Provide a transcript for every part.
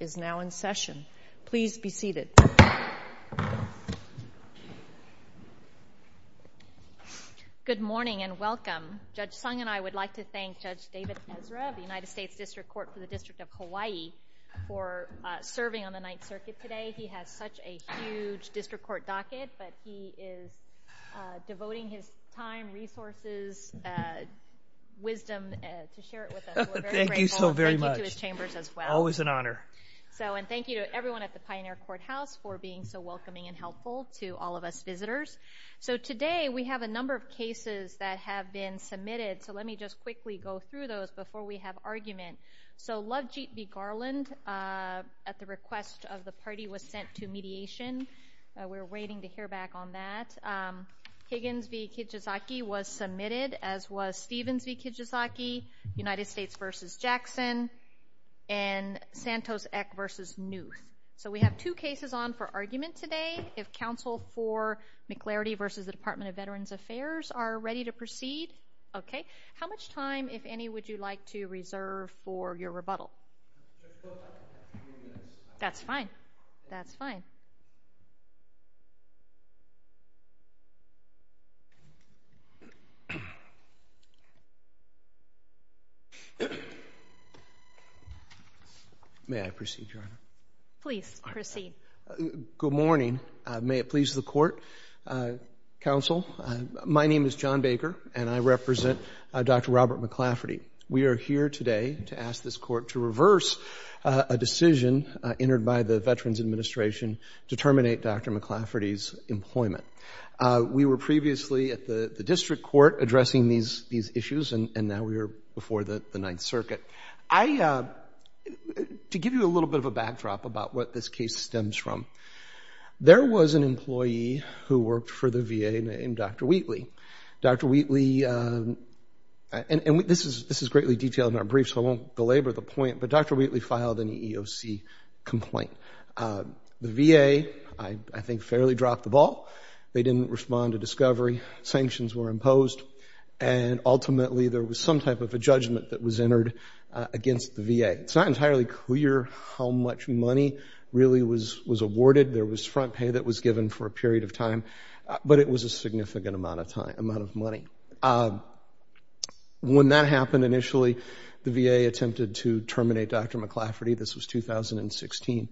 is now in session. Please be seated. Good morning and welcome. Judge Sung and I would like to thank Judge David Ezra of the United States District Court for the District of Hawaii for serving on the Ninth Circuit today. He has such a huge district court docket, but he is devoting his time, resources, wisdom to share it with us. We're very grateful. Thank you so very much. Thank you to his chambers as well. Always an honor. Thank you to everyone at the Pioneer Courthouse for being so welcoming and helpful to all of us visitors. Today we have a number of cases that have been submitted. Let me just quickly go through those before we have argument. Lovejeet v. Garland at the request of the party was sent to mediation. We're waiting to hear back on that. Higgins v. Kijizaki was submitted as was Stevens v. Kijizaki, United States v. Jackson, and Santos v. Newth. So we have two cases on for argument today. If counsel for McLafferty v. the Department of Veterans Affairs are ready to proceed, okay. How much time, if any, would you like to reserve for your rebuttal? That's fine. That's fine. May I proceed, Your Honor? Please proceed. Good morning. May it please the court, counsel. My name is John Baker, and I represent Dr. Robert McLafferty. We are here today to ask this court to reverse a decision entered by the Veterans Administration to terminate Dr. McLafferty's employment. We were previously at the district court addressing these issues, and now we are before the Ninth Circuit. To give you a little bit of a backdrop about what this case stems from, there was an employee who worked for and this is greatly detailed in our brief, so I won't belabor the point, but Dr. Wheatley filed an EEOC complaint. The VA, I think, fairly dropped the ball. They didn't respond to discovery, sanctions were imposed, and ultimately there was some type of a judgment that was entered against the VA. It's not entirely clear how much money really was awarded. There was front pay that was given for a period of time, but it was a significant amount of time, amount of money. When that happened initially, the VA attempted to terminate Dr. McLafferty. This was 2016.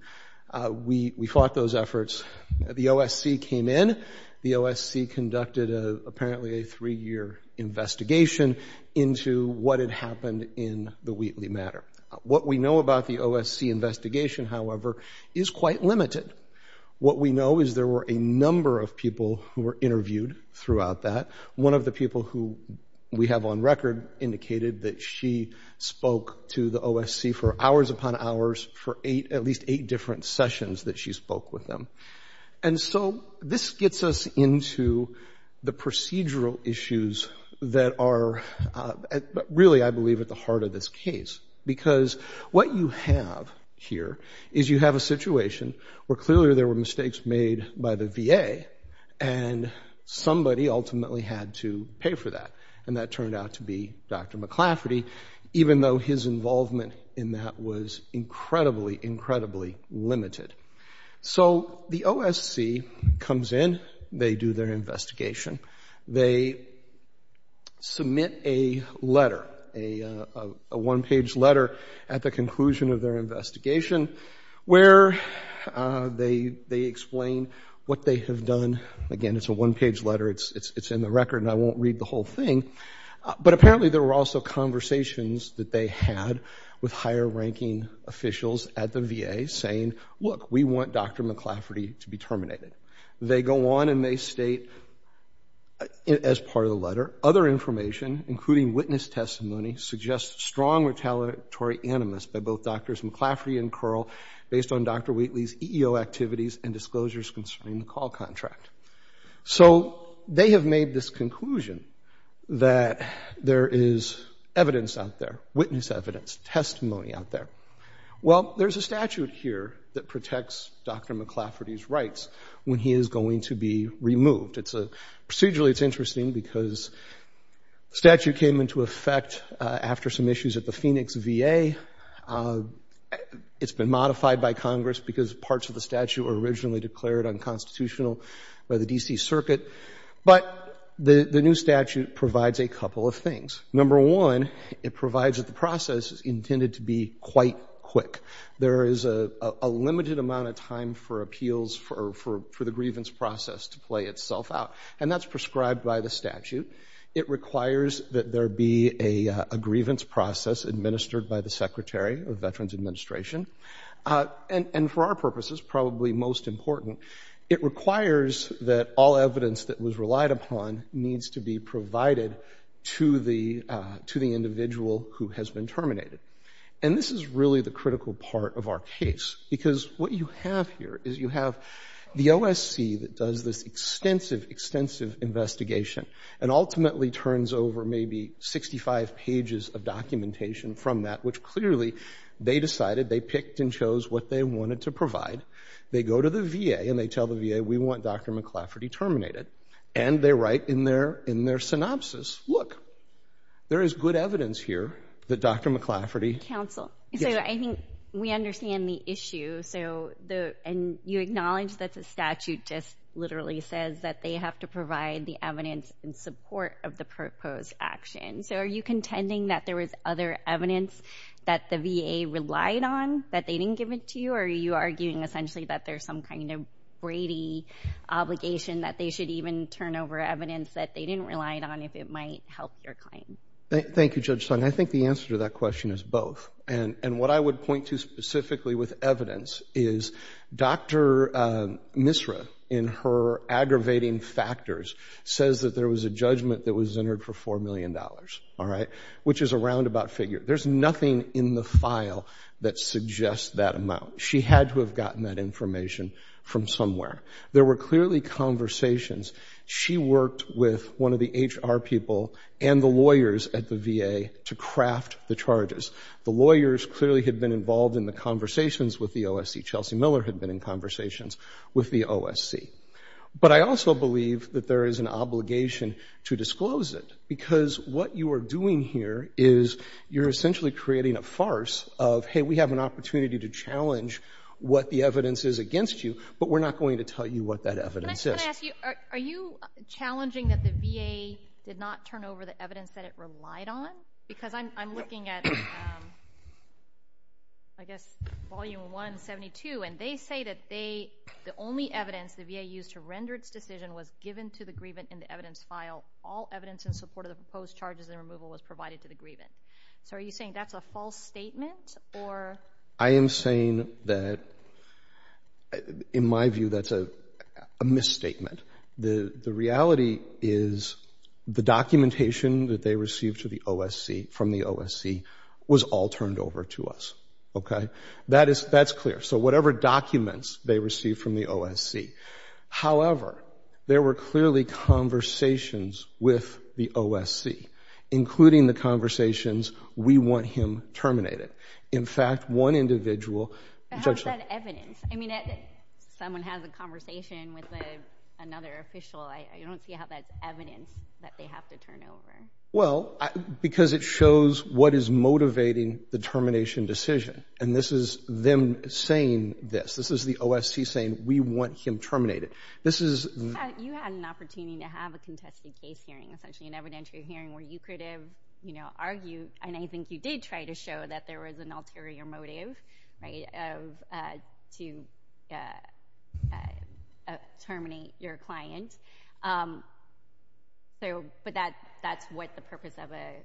We fought those efforts. The OSC came in. The OSC conducted apparently a three-year investigation into what had happened in the Wheatley matter. What we know about the OSC investigation, however, is quite limited. What we know is there were a number of people who were interviewed throughout that. One of the people who we have on record indicated that she spoke to the OSC for hours upon hours for at least eight different sessions that she spoke with them. This gets us into the procedural issues that are really, I believe, at the heart of this case because what you have here is you have a situation where clearly there were mistakes made by the VA and somebody ultimately had to pay for that, and that turned out to be Dr. McLafferty, even though his involvement in that was incredibly, incredibly limited. So the OSC comes in. They do their investigation. They submit a letter, a one-page letter at the conclusion of their investigation where they explain what they have done. Again, it's a one-page letter. It's in the record, and I won't read the whole thing, but apparently there were also conversations that they had with higher-ranking officials at the VA saying, look, we want Dr. McLafferty to be terminated. They go on and they state as part of the letter, other information, including witness testimony, suggests strong retaliatory animus by both Drs. McLafferty and Curl based on Dr. Wheatley's EEO activities and disclosures concerning the call contract. So they have made this conclusion that there is evidence out there, witness evidence, testimony out there. Well, there's a statute here that protects Dr. McLafferty's rights when he is going to be removed. Procedurally, it's interesting because the statute came into effect after some issues at the Phoenix VA. It's been modified by Congress because parts of the statute were originally declared unconstitutional by the D.C. Circuit. But the new statute provides a couple of things. Number one, it provides that the process is intended to be quite quick. There is a limited amount of time for appeals for the grievance process to play itself out. And that's prescribed by the statute. It requires that there be a grievance process administered by the Secretary of Veterans Administration. And for our purposes, probably most important, it requires that all evidence that was relied upon needs to be provided to the individual who has been terminated. And this is really the critical part of our case because what you have here is you have the OSC that does this extensive, extensive investigation and ultimately turns over maybe 65 pages of documentation from that, which clearly they decided, they picked and chose what they wanted to provide. They go to the VA and they tell the VA, we want Dr. McLafferty terminated. And they write in their in their synopsis, look, there is good evidence here that Dr. McLafferty counsel. So I think we understand the issue. So the and you acknowledge that the statute just literally says that they have to provide the evidence in support of the proposed action. So are you contending that there was other evidence that the VA relied on that they didn't give it to you? Are you arguing essentially that there's some kind of Brady obligation that they should even turn over evidence that they didn't rely on if it might help your claim? Thank you, Judge Sung. I think the answer to that question is both. And what I would point to specifically with evidence is Dr. Misra in her aggravating factors says that there was a judgment that was entered for $4 million, all right, which is a roundabout figure. There's nothing in the file that suggests that amount. She had to have gotten that information from somewhere. There were conversations. She worked with one of the HR people and the lawyers at the VA to craft the charges. The lawyers clearly had been involved in the conversations with the OSC. Chelsea Miller had been in conversations with the OSC. But I also believe that there is an obligation to disclose it because what you are doing here is you're essentially creating a farce of, hey, we have an opportunity to challenge what the evidence is against you, but we're not going to tell you what evidence is. Can I ask you, are you challenging that the VA did not turn over the evidence that it relied on? Because I'm looking at, I guess, volume 172, and they say that the only evidence the VA used to render its decision was given to the grievant in the evidence file. All evidence in support of the proposed charges and removal was provided to the grievant. So are you saying that's a false statement? I am saying that, in my view, that's a misstatement. The reality is the documentation that they received from the OSC was all turned over to us. That's clear. So whatever documents they received from the OSC. However, there were clearly conversations with the OSC, including the conversations, we want him terminated. In fact, one individual. But how is that evidence? I mean, someone has a conversation with another official. I don't see how that's evidence that they have to turn over. Well, because it shows what is motivating the termination decision. And this is them saying this. This is the OSC saying, we want him essentially in evidentiary hearing where you could have argued, and I think you did try to show that there was an ulterior motive to terminate your client. But that's what the purpose of a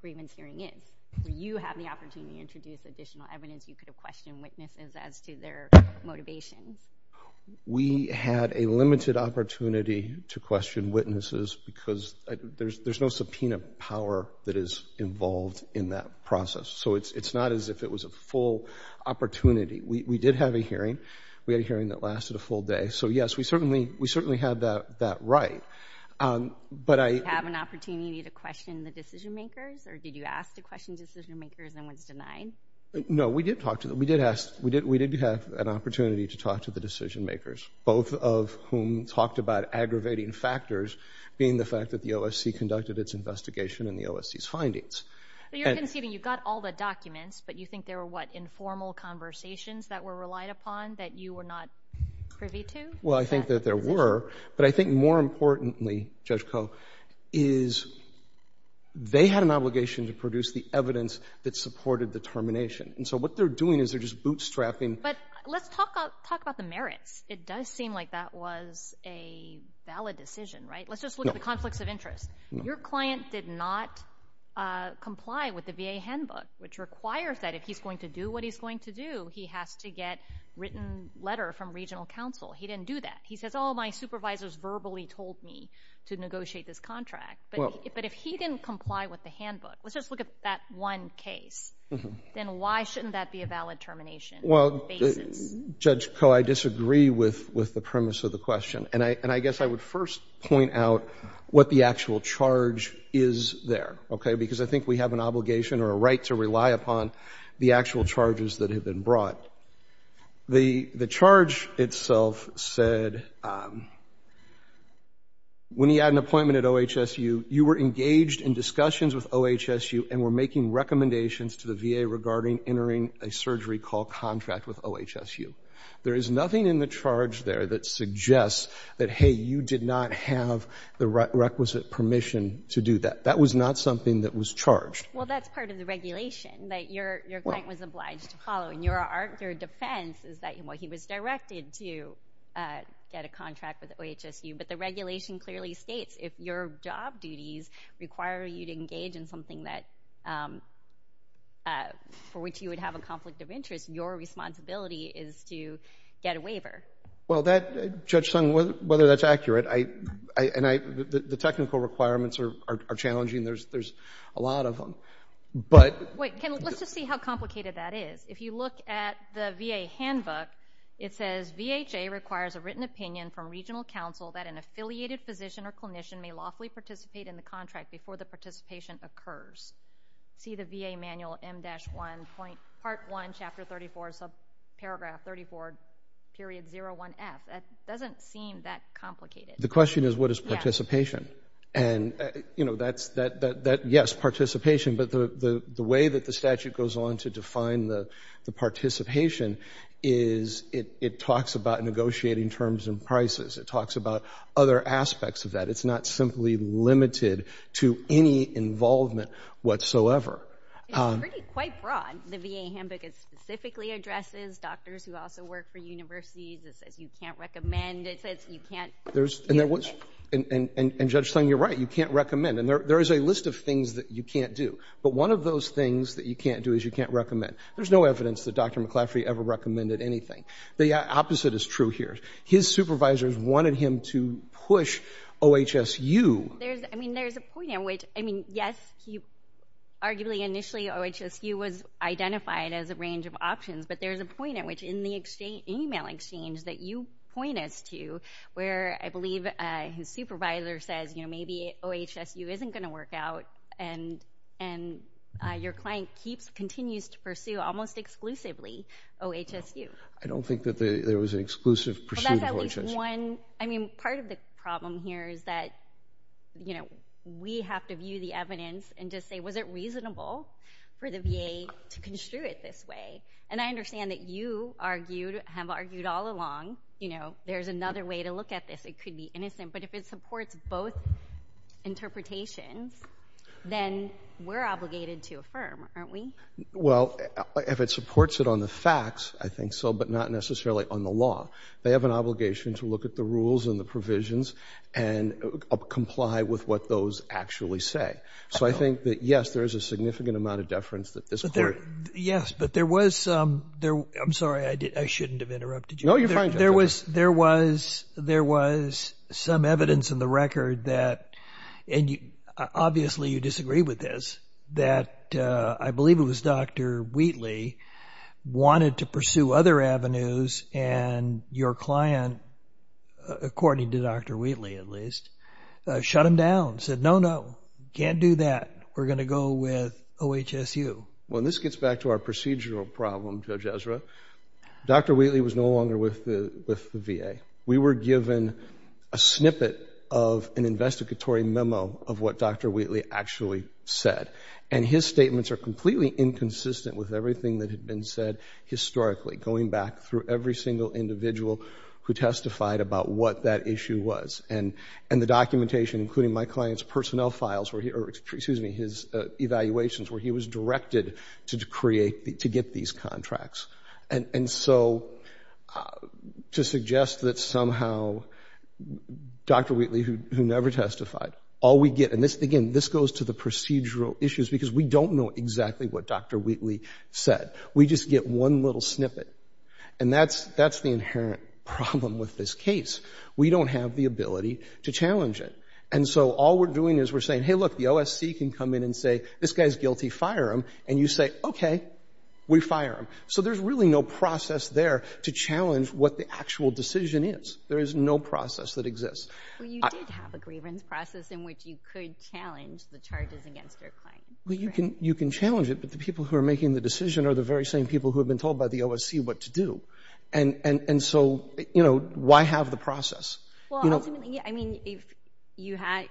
grievance hearing is. You have the opportunity to introduce additional evidence. You could have questioned witnesses as to their motivations. We had a limited opportunity to question witnesses because there's no subpoena power that is involved in that process. So it's not as if it was a full opportunity. We did have a hearing. We had a hearing that lasted a full day. So yes, we certainly had that right. Did you have an opportunity to question the decision makers or did you ask to question decision makers and was denied? No, we did have an opportunity to question the decision makers. So, I think, you know, I think that there are some aggravating factors being the fact that the OSC conducted its investigation and the OSC's findings. You're conceding you got all the documents but you think there were, what, informal conversations that were relied upon that you were not privy to? Well, I think that there were. But I think more importantly, Judge Koh, is they had an obligation to produce the evidence that valid decision, right? Let's just look at the conflicts of interest. Your client did not comply with the VA handbook, which requires that if he's going to do what he's going to do, he has to get written letter from regional counsel. He didn't do that. He says, oh, my supervisors verbally told me to negotiate this contract. But if he didn't comply with the handbook, let's just look at that one case, then why shouldn't that be a valid termination? Well, Judge Koh, I disagree with the premise of the question. And I guess I would first point out what the actual charge is there, okay? Because I think we have an obligation or a right to rely upon the actual charges that have been brought. The charge itself said when he had an appointment at OHSU, you were engaged in discussions with OHSU and were making recommendations to the VA entering a surgery call contract with OHSU. There is nothing in the charge there that suggests that, hey, you did not have the requisite permission to do that. That was not something that was charged. Well, that's part of the regulation that your client was obliged to follow. And your defense is that he was directed to get a contract with OHSU. But the regulation clearly states if your job duties require you to engage in something for which you would have a conflict of interest, your responsibility is to get a waiver. Well, Judge Sung, whether that's accurate, the technical requirements are challenging. There's a lot of them. But... Wait. Let's just see how complicated that is. If you look at the VA handbook, it says VHA requires a written opinion from regional counsel that an affiliated physician or clinician may lawfully participate in the contract before the participation occurs. See the VA manual M-1, part 1, chapter 34, subparagraph 34, period 01F. That doesn't seem that complicated. The question is what is participation? And, you know, that's, yes, participation. But the way that the statute goes on to define the terms and prices, it talks about other aspects of that. It's not simply limited to any involvement whatsoever. It's pretty quite broad, the VA handbook. It specifically addresses doctors who also work for universities. It says you can't recommend. It says you can't... And Judge Sung, you're right. You can't recommend. And there is a list of things that you can't do. But one of those things that you can't do is you can't recommend. There's no evidence that Dr. His supervisors wanted him to push OHSU. I mean, there's a point at which, I mean, yes, he arguably initially OHSU was identified as a range of options. But there's a point at which in the email exchange that you point us to where I believe his supervisor says, you know, maybe OHSU isn't going to work out and your client keeps, continues to pursue almost exclusively OHSU. I don't think that there was an exclusive pursuit. Well, that's at least one. I mean, part of the problem here is that, you know, we have to view the evidence and just say, was it reasonable for the VA to construe it this way? And I understand that you argued, have argued all along, you know, there's another way to look at this. It could be innocent. But if it supports both interpretations, then we're obligated to affirm, aren't we? Well, if it supports it on the facts, I think so, but not necessarily on the law. They have an obligation to look at the rules and the provisions and comply with what those actually say. So I think that, yes, there is a significant amount of deference that this court. Yes, but there was, I'm sorry, I shouldn't have interrupted you. No, you're fine. There was some evidence in the record that, and obviously you disagree with this, that I believe it was Dr. Wheatley wanted to pursue other avenues and your client, according to Dr. Wheatley, at least, shut him down, said, no, no, can't do that. We're going to go with OHSU. Well, this gets back to our procedural problem, Judge Ezra. Dr. Wheatley was no longer with the And his statements are completely inconsistent with everything that had been said historically, going back through every single individual who testified about what that issue was. And the documentation, including my client's personnel files, or excuse me, his evaluations where he was directed to create, to get these contracts. And so to suggest that somehow Dr. Wheatley, who never testified, all we get, and this, again, this goes to the procedural issues because we don't know exactly what Dr. Wheatley said. We just get one little snippet. And that's the inherent problem with this case. We don't have the ability to challenge it. And so all we're doing is we're saying, hey, look, the OSC can come in and say, this guy's guilty, fire him. And you say, okay, we fire him. So there's really no process there to challenge what the actual decision is. There is no process that exists. Well, you did have a grievance process in which you could challenge the charges against your client. Well, you can challenge it, but the people who are making the decision are the very same people who have been told by the OSC what to do. And so, you know, why have the process? Well, ultimately, I mean, if you had,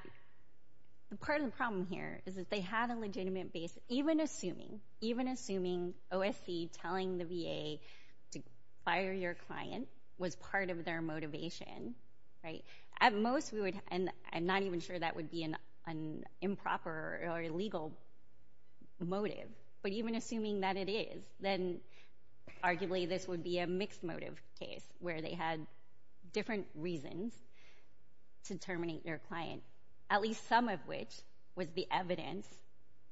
part of the problem here is that they had a legitimate base, even assuming, even assuming OSC telling the VA to fire your client was part of their motivation, right? At most we would, and I'm not even sure that would be an improper or illegal motive, but even assuming that it is, then arguably this would be a mixed motive case where they had different reasons to terminate their client, at least some of which was the evidence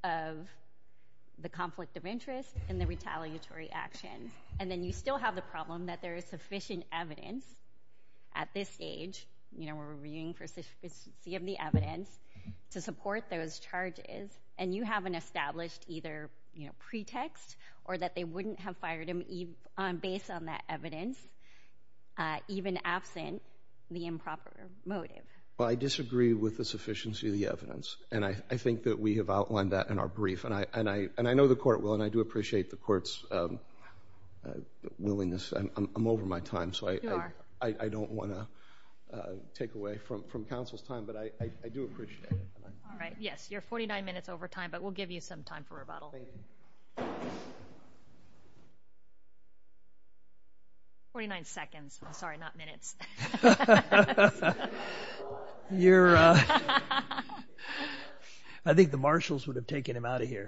of the conflict of interest and the retaliatory action. And then you still have the problem that there is sufficient evidence at this stage, you know, we're reviewing for sufficiency of the evidence to support those charges, and you haven't established either, you know, pretext or that they wouldn't have fired him based on that evidence, even absent the improper motive. Well, I disagree with the sufficiency of the evidence, and I think that we have outlined that in our brief, and I know the court will, and I do appreciate the court's willingness. I'm over my time, so I don't want to take away from counsel's time, but I do appreciate it. All right, yes, you're 49 minutes over time, but we'll give you some time for rebuttal. 49 seconds, sorry, not minutes. I think the marshals would have taken him out of here.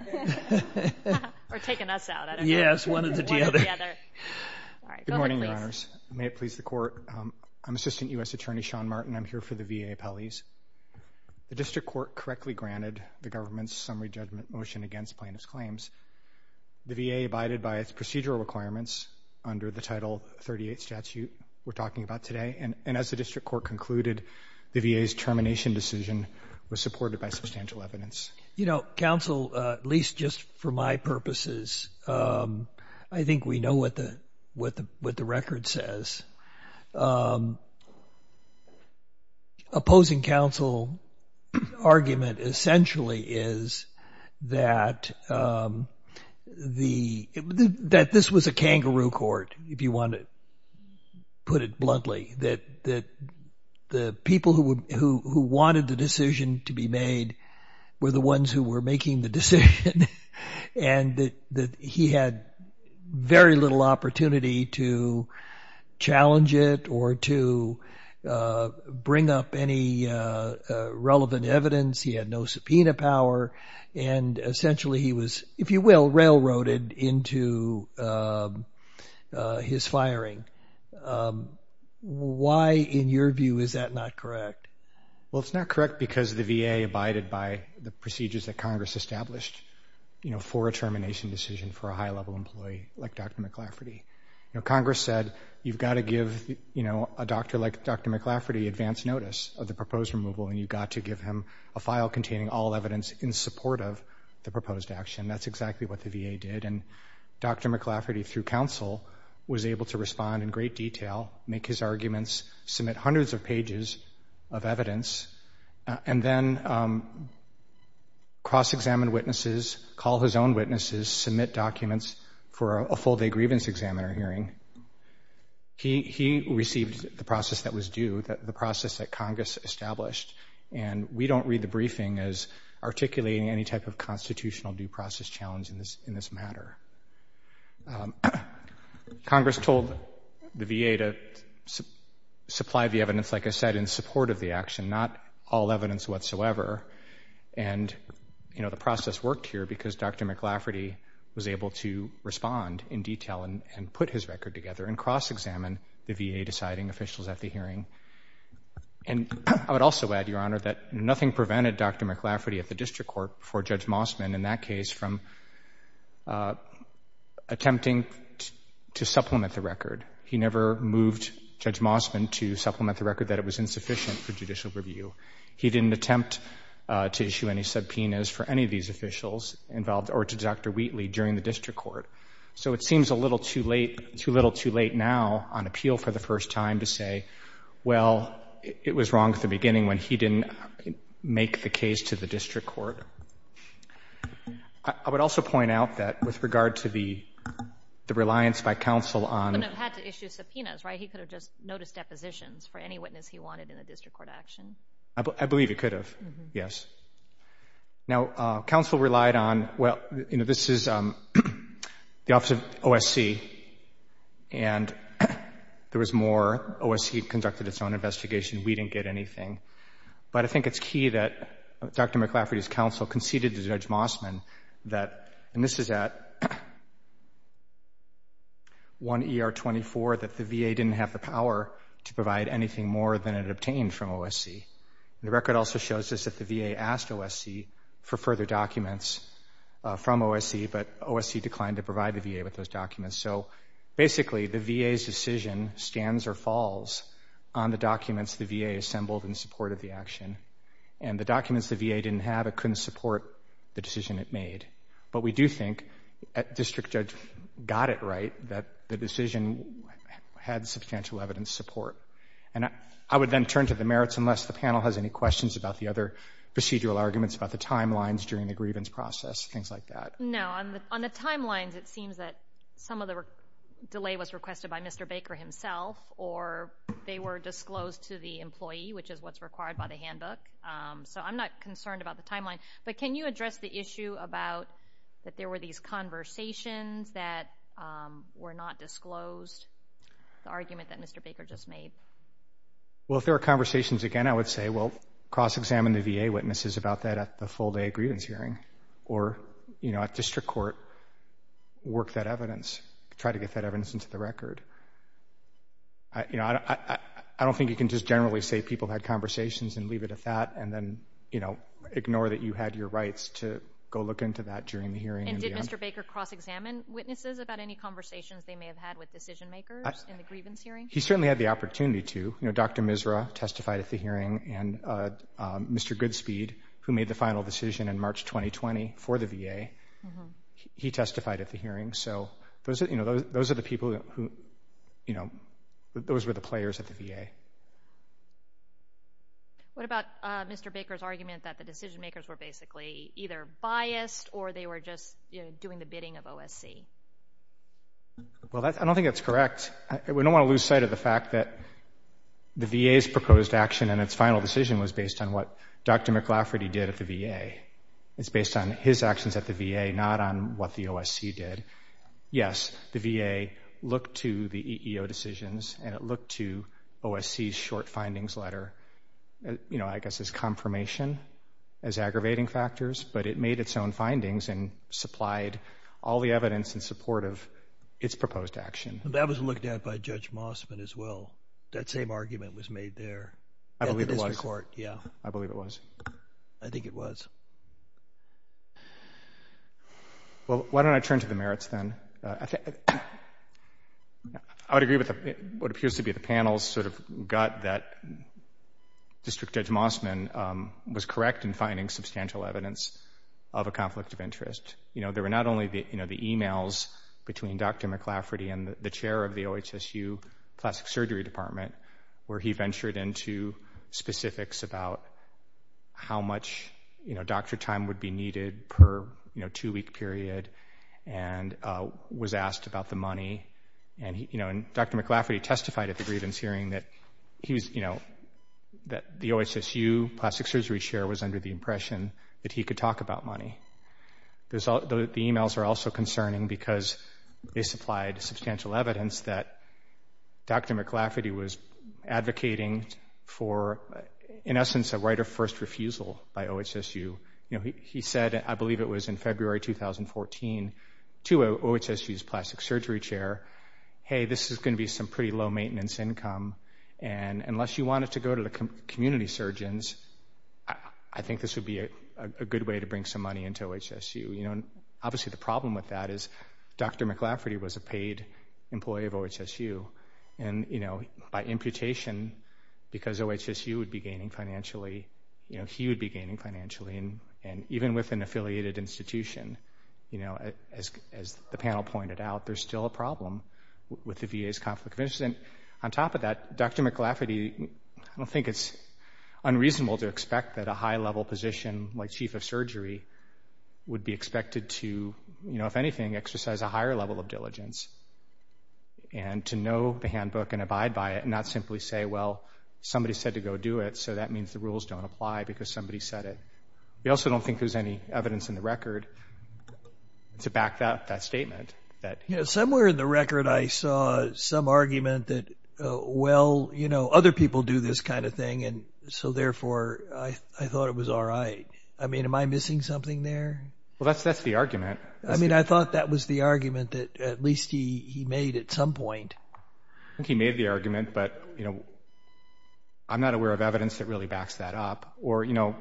Or taken us out, I don't know. Yes, one or the other. One or the other. All right, go ahead, please. Good morning, Your Honors. May it please the court. I'm Assistant U.S. Attorney Sean Martin. I'm here for the VA appellees. The district court correctly granted the government's summary judgment motion against plaintiff's claims. The VA abided by its procedural requirements under the Title 38 statute we're talking about today, and as the district court concluded, the VA's termination decision was supported by substantial evidence. You know, counsel, at least just for my purposes, I think we know what the record says. Opposing counsel argument essentially is that this was a kangaroo court, if you want to it bluntly, that the people who wanted the decision to be made were the ones who were making the decision, and that he had very little opportunity to challenge it or to bring up any relevant evidence. He had no subpoena power, and essentially he was, if you will, railroaded into his firing. Why, in your view, is that not correct? Well, it's not correct because the VA abided by the procedures that Congress established, you know, for a termination decision for a high-level employee like Dr. McLafferty. You know, Congress said, you've got to give, you know, a doctor like Dr. McLafferty advance notice of the proposed removal, and you've got to give him a file containing all evidence in support of the proposed action. That's exactly what the VA did, and Dr. McLafferty, through counsel, was able to respond in great detail, make his arguments, submit hundreds of pages of evidence, and then cross-examine witnesses, call his own witnesses, submit documents for a full-day grievance examiner hearing. He received the process that was due, the process that Congress established, and we don't read the briefing as articulating any type of constitutional due process challenge in this matter. Congress told the VA to supply the evidence, like I said, in support of the action, not all evidence whatsoever, and, you know, the process worked here because Dr. McLafferty was able to respond in detail and put his record together and cross-examine the VA deciding officials at the hearing. And I would also add, Your Honor, that nothing prevented Dr. McLafferty at the district court for Judge Mossman, in that case, from attempting to supplement the record. He never moved Judge Mossman to supplement the record that it was insufficient for judicial review. He didn't attempt to issue any subpoenas for any of these officials involved or to Dr. Wheatley during the district court. So it seems a little too late, now, on appeal for the first time, to say, well, it was wrong at the beginning when he didn't make the case to the district court. I would also point out that with regard to the reliance by counsel on... But it had to issue subpoenas, right? He could have just noticed depositions for any witness he wanted in the district court action. I believe he could have, yes. Now, counsel relied on, well, you know, this is the Office of OSC, and there was more. OSC conducted its own investigation. We didn't get anything. But I think it's key that Dr. McLafferty's counsel conceded to Judge Mossman that, and this is at 1 ER 24, that the VA didn't have the power to provide anything more than it obtained from OSC. And the record also shows us that the VA asked OSC for further documents from OSC, but OSC declined to provide the VA with those documents. So basically, the VA's decision stands or falls on the documents the VA assembled in support of the action. And the documents the VA didn't have, it couldn't support the decision it made. But we do think district judge got it right, that the decision had substantial evidence support. And I would then turn to the merits, unless the panel has any questions about the other procedural arguments about the timelines during the grievance process, things like that. No. On the timelines, it seems that some of the delay was requested by Mr. Baker himself, or they were disclosed to the employee, which is what's required by the handbook. So I'm not concerned about the timeline. But can you address the issue about that there were these conversations that were not disclosed, the argument that Mr. Baker just made? Well, if there are conversations again, I would say, well, cross-examine the VA witnesses about that at the full day grievance hearing, or at district court, work that evidence, try to get that evidence into the record. I don't think you can just generally say people had conversations and leave it at that, and then ignore that you had your rights to go look into that during the hearing. And did Mr. Baker cross-examine witnesses about any conversations they may have had with decision makers in the grievance hearing? He certainly had the opportunity to. Dr. Misra testified at the hearing, and Mr. Goodspeed, who made the final decision in March 2020 for the VA, he testified at the hearing. So those are the people who, those were the players at the VA. What about Mr. Baker's argument that the decision makers were basically either biased or they were just doing the bidding of OSC? Well, I don't think that's correct. We don't want to lose sight of the fact that the VA's proposed action and its final decision was based on what Dr. McLafferty did at the VA. It's based on his actions at the VA, not on what the OSC did. Yes, the VA looked to the EEO decisions, and it looked to OSC's short findings letter, you know, I guess as confirmation, as aggravating factors, but it made its own findings and its proposed action. That was looked at by Judge Mossman as well. That same argument was made there. I believe it was. I believe it was. I think it was. Well, why don't I turn to the merits then? I would agree with what appears to be the panel's sort of gut that District Judge Mossman was correct in finding substantial evidence of a conflict of interest. You know, there were not only the, you know, the emails between Dr. McLafferty and the chair of the OHSU Plastic Surgery Department where he ventured into specifics about how much, you know, doctor time would be needed per, you know, two-week period and was asked about the money. And, you know, Dr. McLafferty testified at the grievance hearing that he was, you know, that the OHSU Plastic Surgery Chair was under the impression that he could talk about money. The emails are also concerning because they supplied substantial evidence that Dr. McLafferty was advocating for, in essence, a right of first refusal by OHSU. You know, he said, I believe it was in February 2014, to OHSU's Plastic Surgery Chair, hey, this is going to be some pretty low maintenance income and unless you wanted to go to the community surgeons, I think this would be a good way to bring some money into OHSU. You know, obviously the problem with that is Dr. McLafferty was a paid employee of OHSU and, you know, by imputation, because OHSU would be gaining financially, you know, he would be gaining financially and even with an affiliated institution, you know, as the panel pointed out, there's still a problem with the VA's conflict of interest. And on top of that, Dr. McLafferty, I don't think it's unreasonable to expect that a high-level position like Chief of Surgery would be expected to, you know, if anything, exercise a higher level of diligence and to know the handbook and abide by it and not simply say, well, somebody said to go do it, so that means the rules don't apply because somebody said it. We also don't think there's any evidence in the record to back that statement. You know, somewhere in the record, I saw some argument that, well, you know, other people do this kind of thing and so therefore I thought it was all right. I mean, am I missing something there? Well, that's the argument. I mean, I thought that was the argument that at least he made at some point. I think he made the argument, but, you know, I'm not aware of evidence that really backs that up. Or, you know,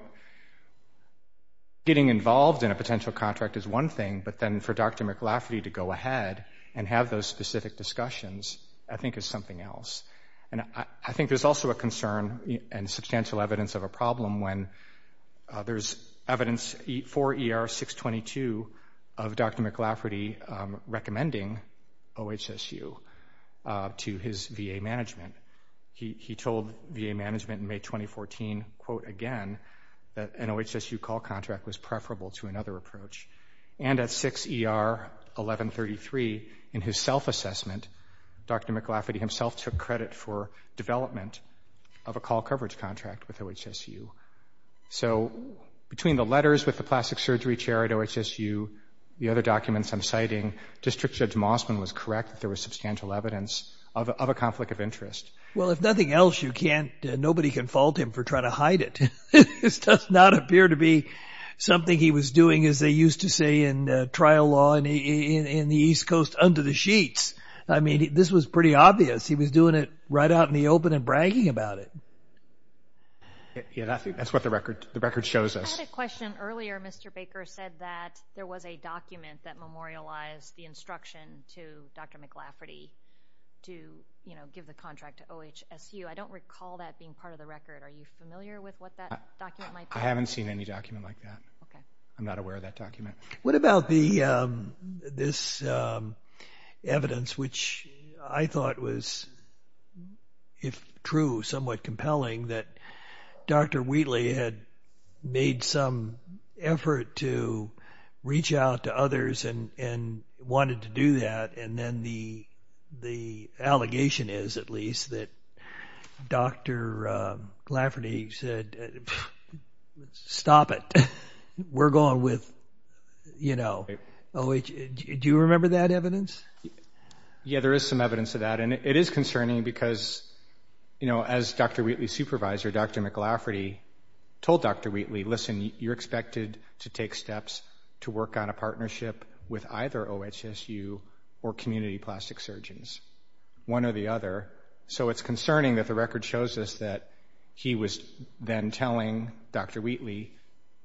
getting involved in a potential contract is one thing, but then for Dr. McLafferty to go ahead and have those specific discussions, I think is something else. And I think there's also a concern and substantial evidence of a problem when there's evidence for ER 622 of Dr. McLafferty recommending OHSU to his VA management. He told VA management in May 2014, quote, again, that an OHSU call contract was preferable to another approach. And at 6 ER 1133, in his self-assessment, Dr. McLafferty himself took credit for development of a call coverage contract with OHSU. So between the letters with the plastic surgery chair at OHSU, the other documents I'm citing, District Judge Mossman was correct that there was substantial evidence of a conflict of interest. Well, if nothing else, you can't, nobody can fault him for trying to hide it. This does not appear to be something he was doing, as they used to say in trial law in the East Coast under the sheets. I mean, this was pretty obvious. He was doing it right out in the open and bragging about it. Yeah, I think that's what the record shows us. I had a question earlier. Mr. Baker said that there was a document that memorialized the instruction to Dr. McLafferty to, you know, give the contract to OHSU. I don't recall that being part of the record. Are you familiar with what that document might be? I haven't seen any document like that. Okay. I'm not aware of that document. What about the, this evidence, which I thought was, if true, somewhat compelling that Dr. Wheatley had made some effort to reach out to others and wanted to do that. And then the allegation is, at least, that Dr. McLafferty said, stop it. We're going with, you know, OHSU. Do you remember that evidence? Yeah, there is some evidence of that. And it was that Dr. McLafferty told Dr. Wheatley, listen, you're expected to take steps to work on a partnership with either OHSU or community plastic surgeons, one or the other. So it's concerning that the record shows us that he was then telling Dr. Wheatley,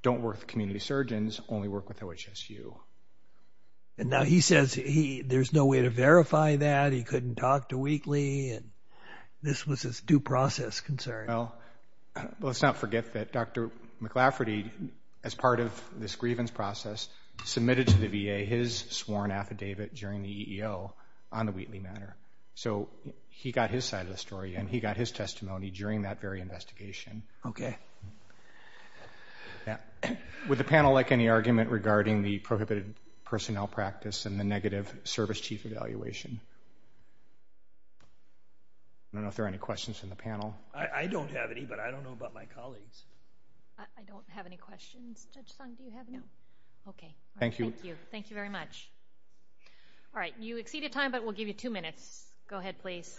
don't work with community surgeons, only work with OHSU. And now he says he, there's no way to verify that. He couldn't talk to Wheatley and this was his due process concern. Well, let's not forget that Dr. McLafferty, as part of this grievance process, submitted to the VA his sworn affidavit during the EEO on the Wheatley matter. So he got his side of the story and he got his testimony during that very investigation. Okay. Yeah. Would the panel like any argument regarding the prohibited personnel practice and the negative service chief evaluation? I don't know if there are any questions in the panel. I don't have any, but I don't know about my colleagues. I don't have any questions. Judge Song, do you have any? No. Okay. Thank you. Thank you very much. All right. You exceeded time, but we'll give you two minutes. Go ahead, please.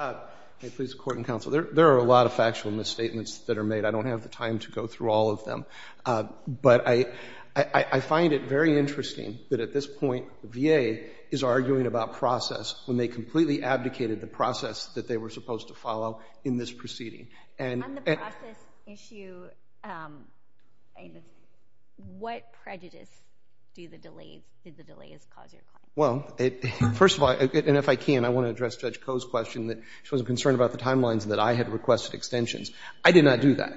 Hey, please, court and counsel. There are a lot of factual misstatements that are made. I don't have the time to go through all of them, but I find it very interesting that at this point, the VA is arguing about process when they completely abdicated the process that they were supposed to follow in this proceeding. On the process issue, what prejudice did the delays cause your client? Well, first of all, and if I can, I want to address Judge Koh's question that she was concerned about the timelines that I had requested extensions. I did not do that.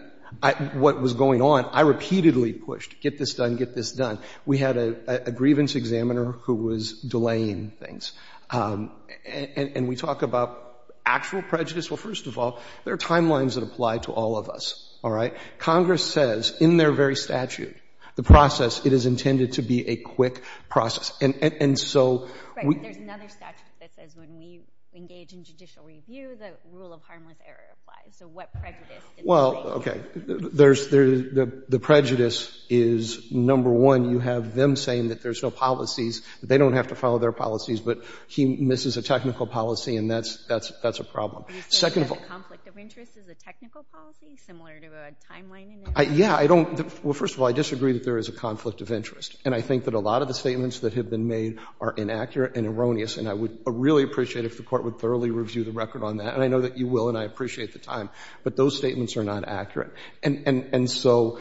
What was going on, I repeatedly pushed, get this done, get this done. We had a grievance examiner who was delaying things. And we talk about actual prejudice. Well, first of all, there are timelines that apply to all of us. All right. Congress says in their very statute, the process, it is intended to be a quick process. And so, there's another statute that says when we engage in judicial review, the rule of harmless error applies. So, what prejudice? Well, okay. There's the prejudice is, number one, you have them saying that there's no policies, that they don't have to follow their policies, but he misses a technical policy, and that's a problem. Second of all, conflict of interest is a technical policy, similar to a timeline in this case? Yeah, I don't. Well, first of all, I disagree that there is a conflict of interest. And I think that a lot of the statements that have been made are inaccurate and erroneous, and I would really appreciate if the Court would thoroughly review the record on that. And I know that you will, and I appreciate the time. But those statements are not accurate. And so,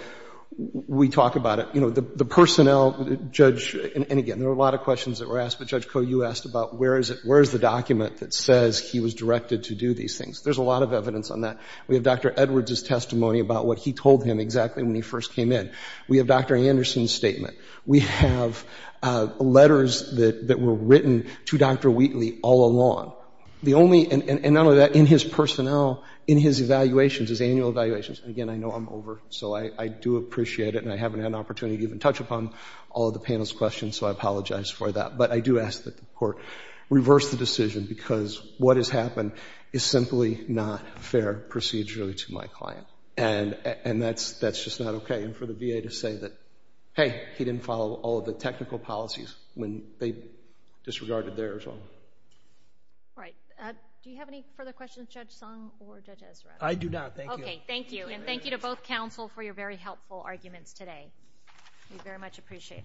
we talk about it. You know, the personnel, Judge, and again, there were a lot of questions that were asked, but Judge Koh, you asked about where is it, where is the document that says he was directed to do these things? There's a lot of evidence on that. We have Dr. Edwards' testimony about what he told him exactly when he first came in. We have Dr. Anderson's statement. We have letters that were written to Dr. Wheatley all along. The only, and not only that, in his personnel, in his evaluations, his annual evaluations, and again, I know I'm over, so I do appreciate it, and I haven't had an opportunity to even touch upon all of the panel's questions, so I apologize for that. But I do ask that the Court reverse the decision, because what has happened is simply not fair procedurally to my client. And that's just not okay. And for the VA to say that, hey, he didn't follow all of the technical policies when they disregarded theirs. All right. Do you have any further questions, Judge Sung or Judge Ezra? I do not. Thank you. Okay. Thank you. And thank you to both counsel for your very helpful arguments today. We very much appreciate it.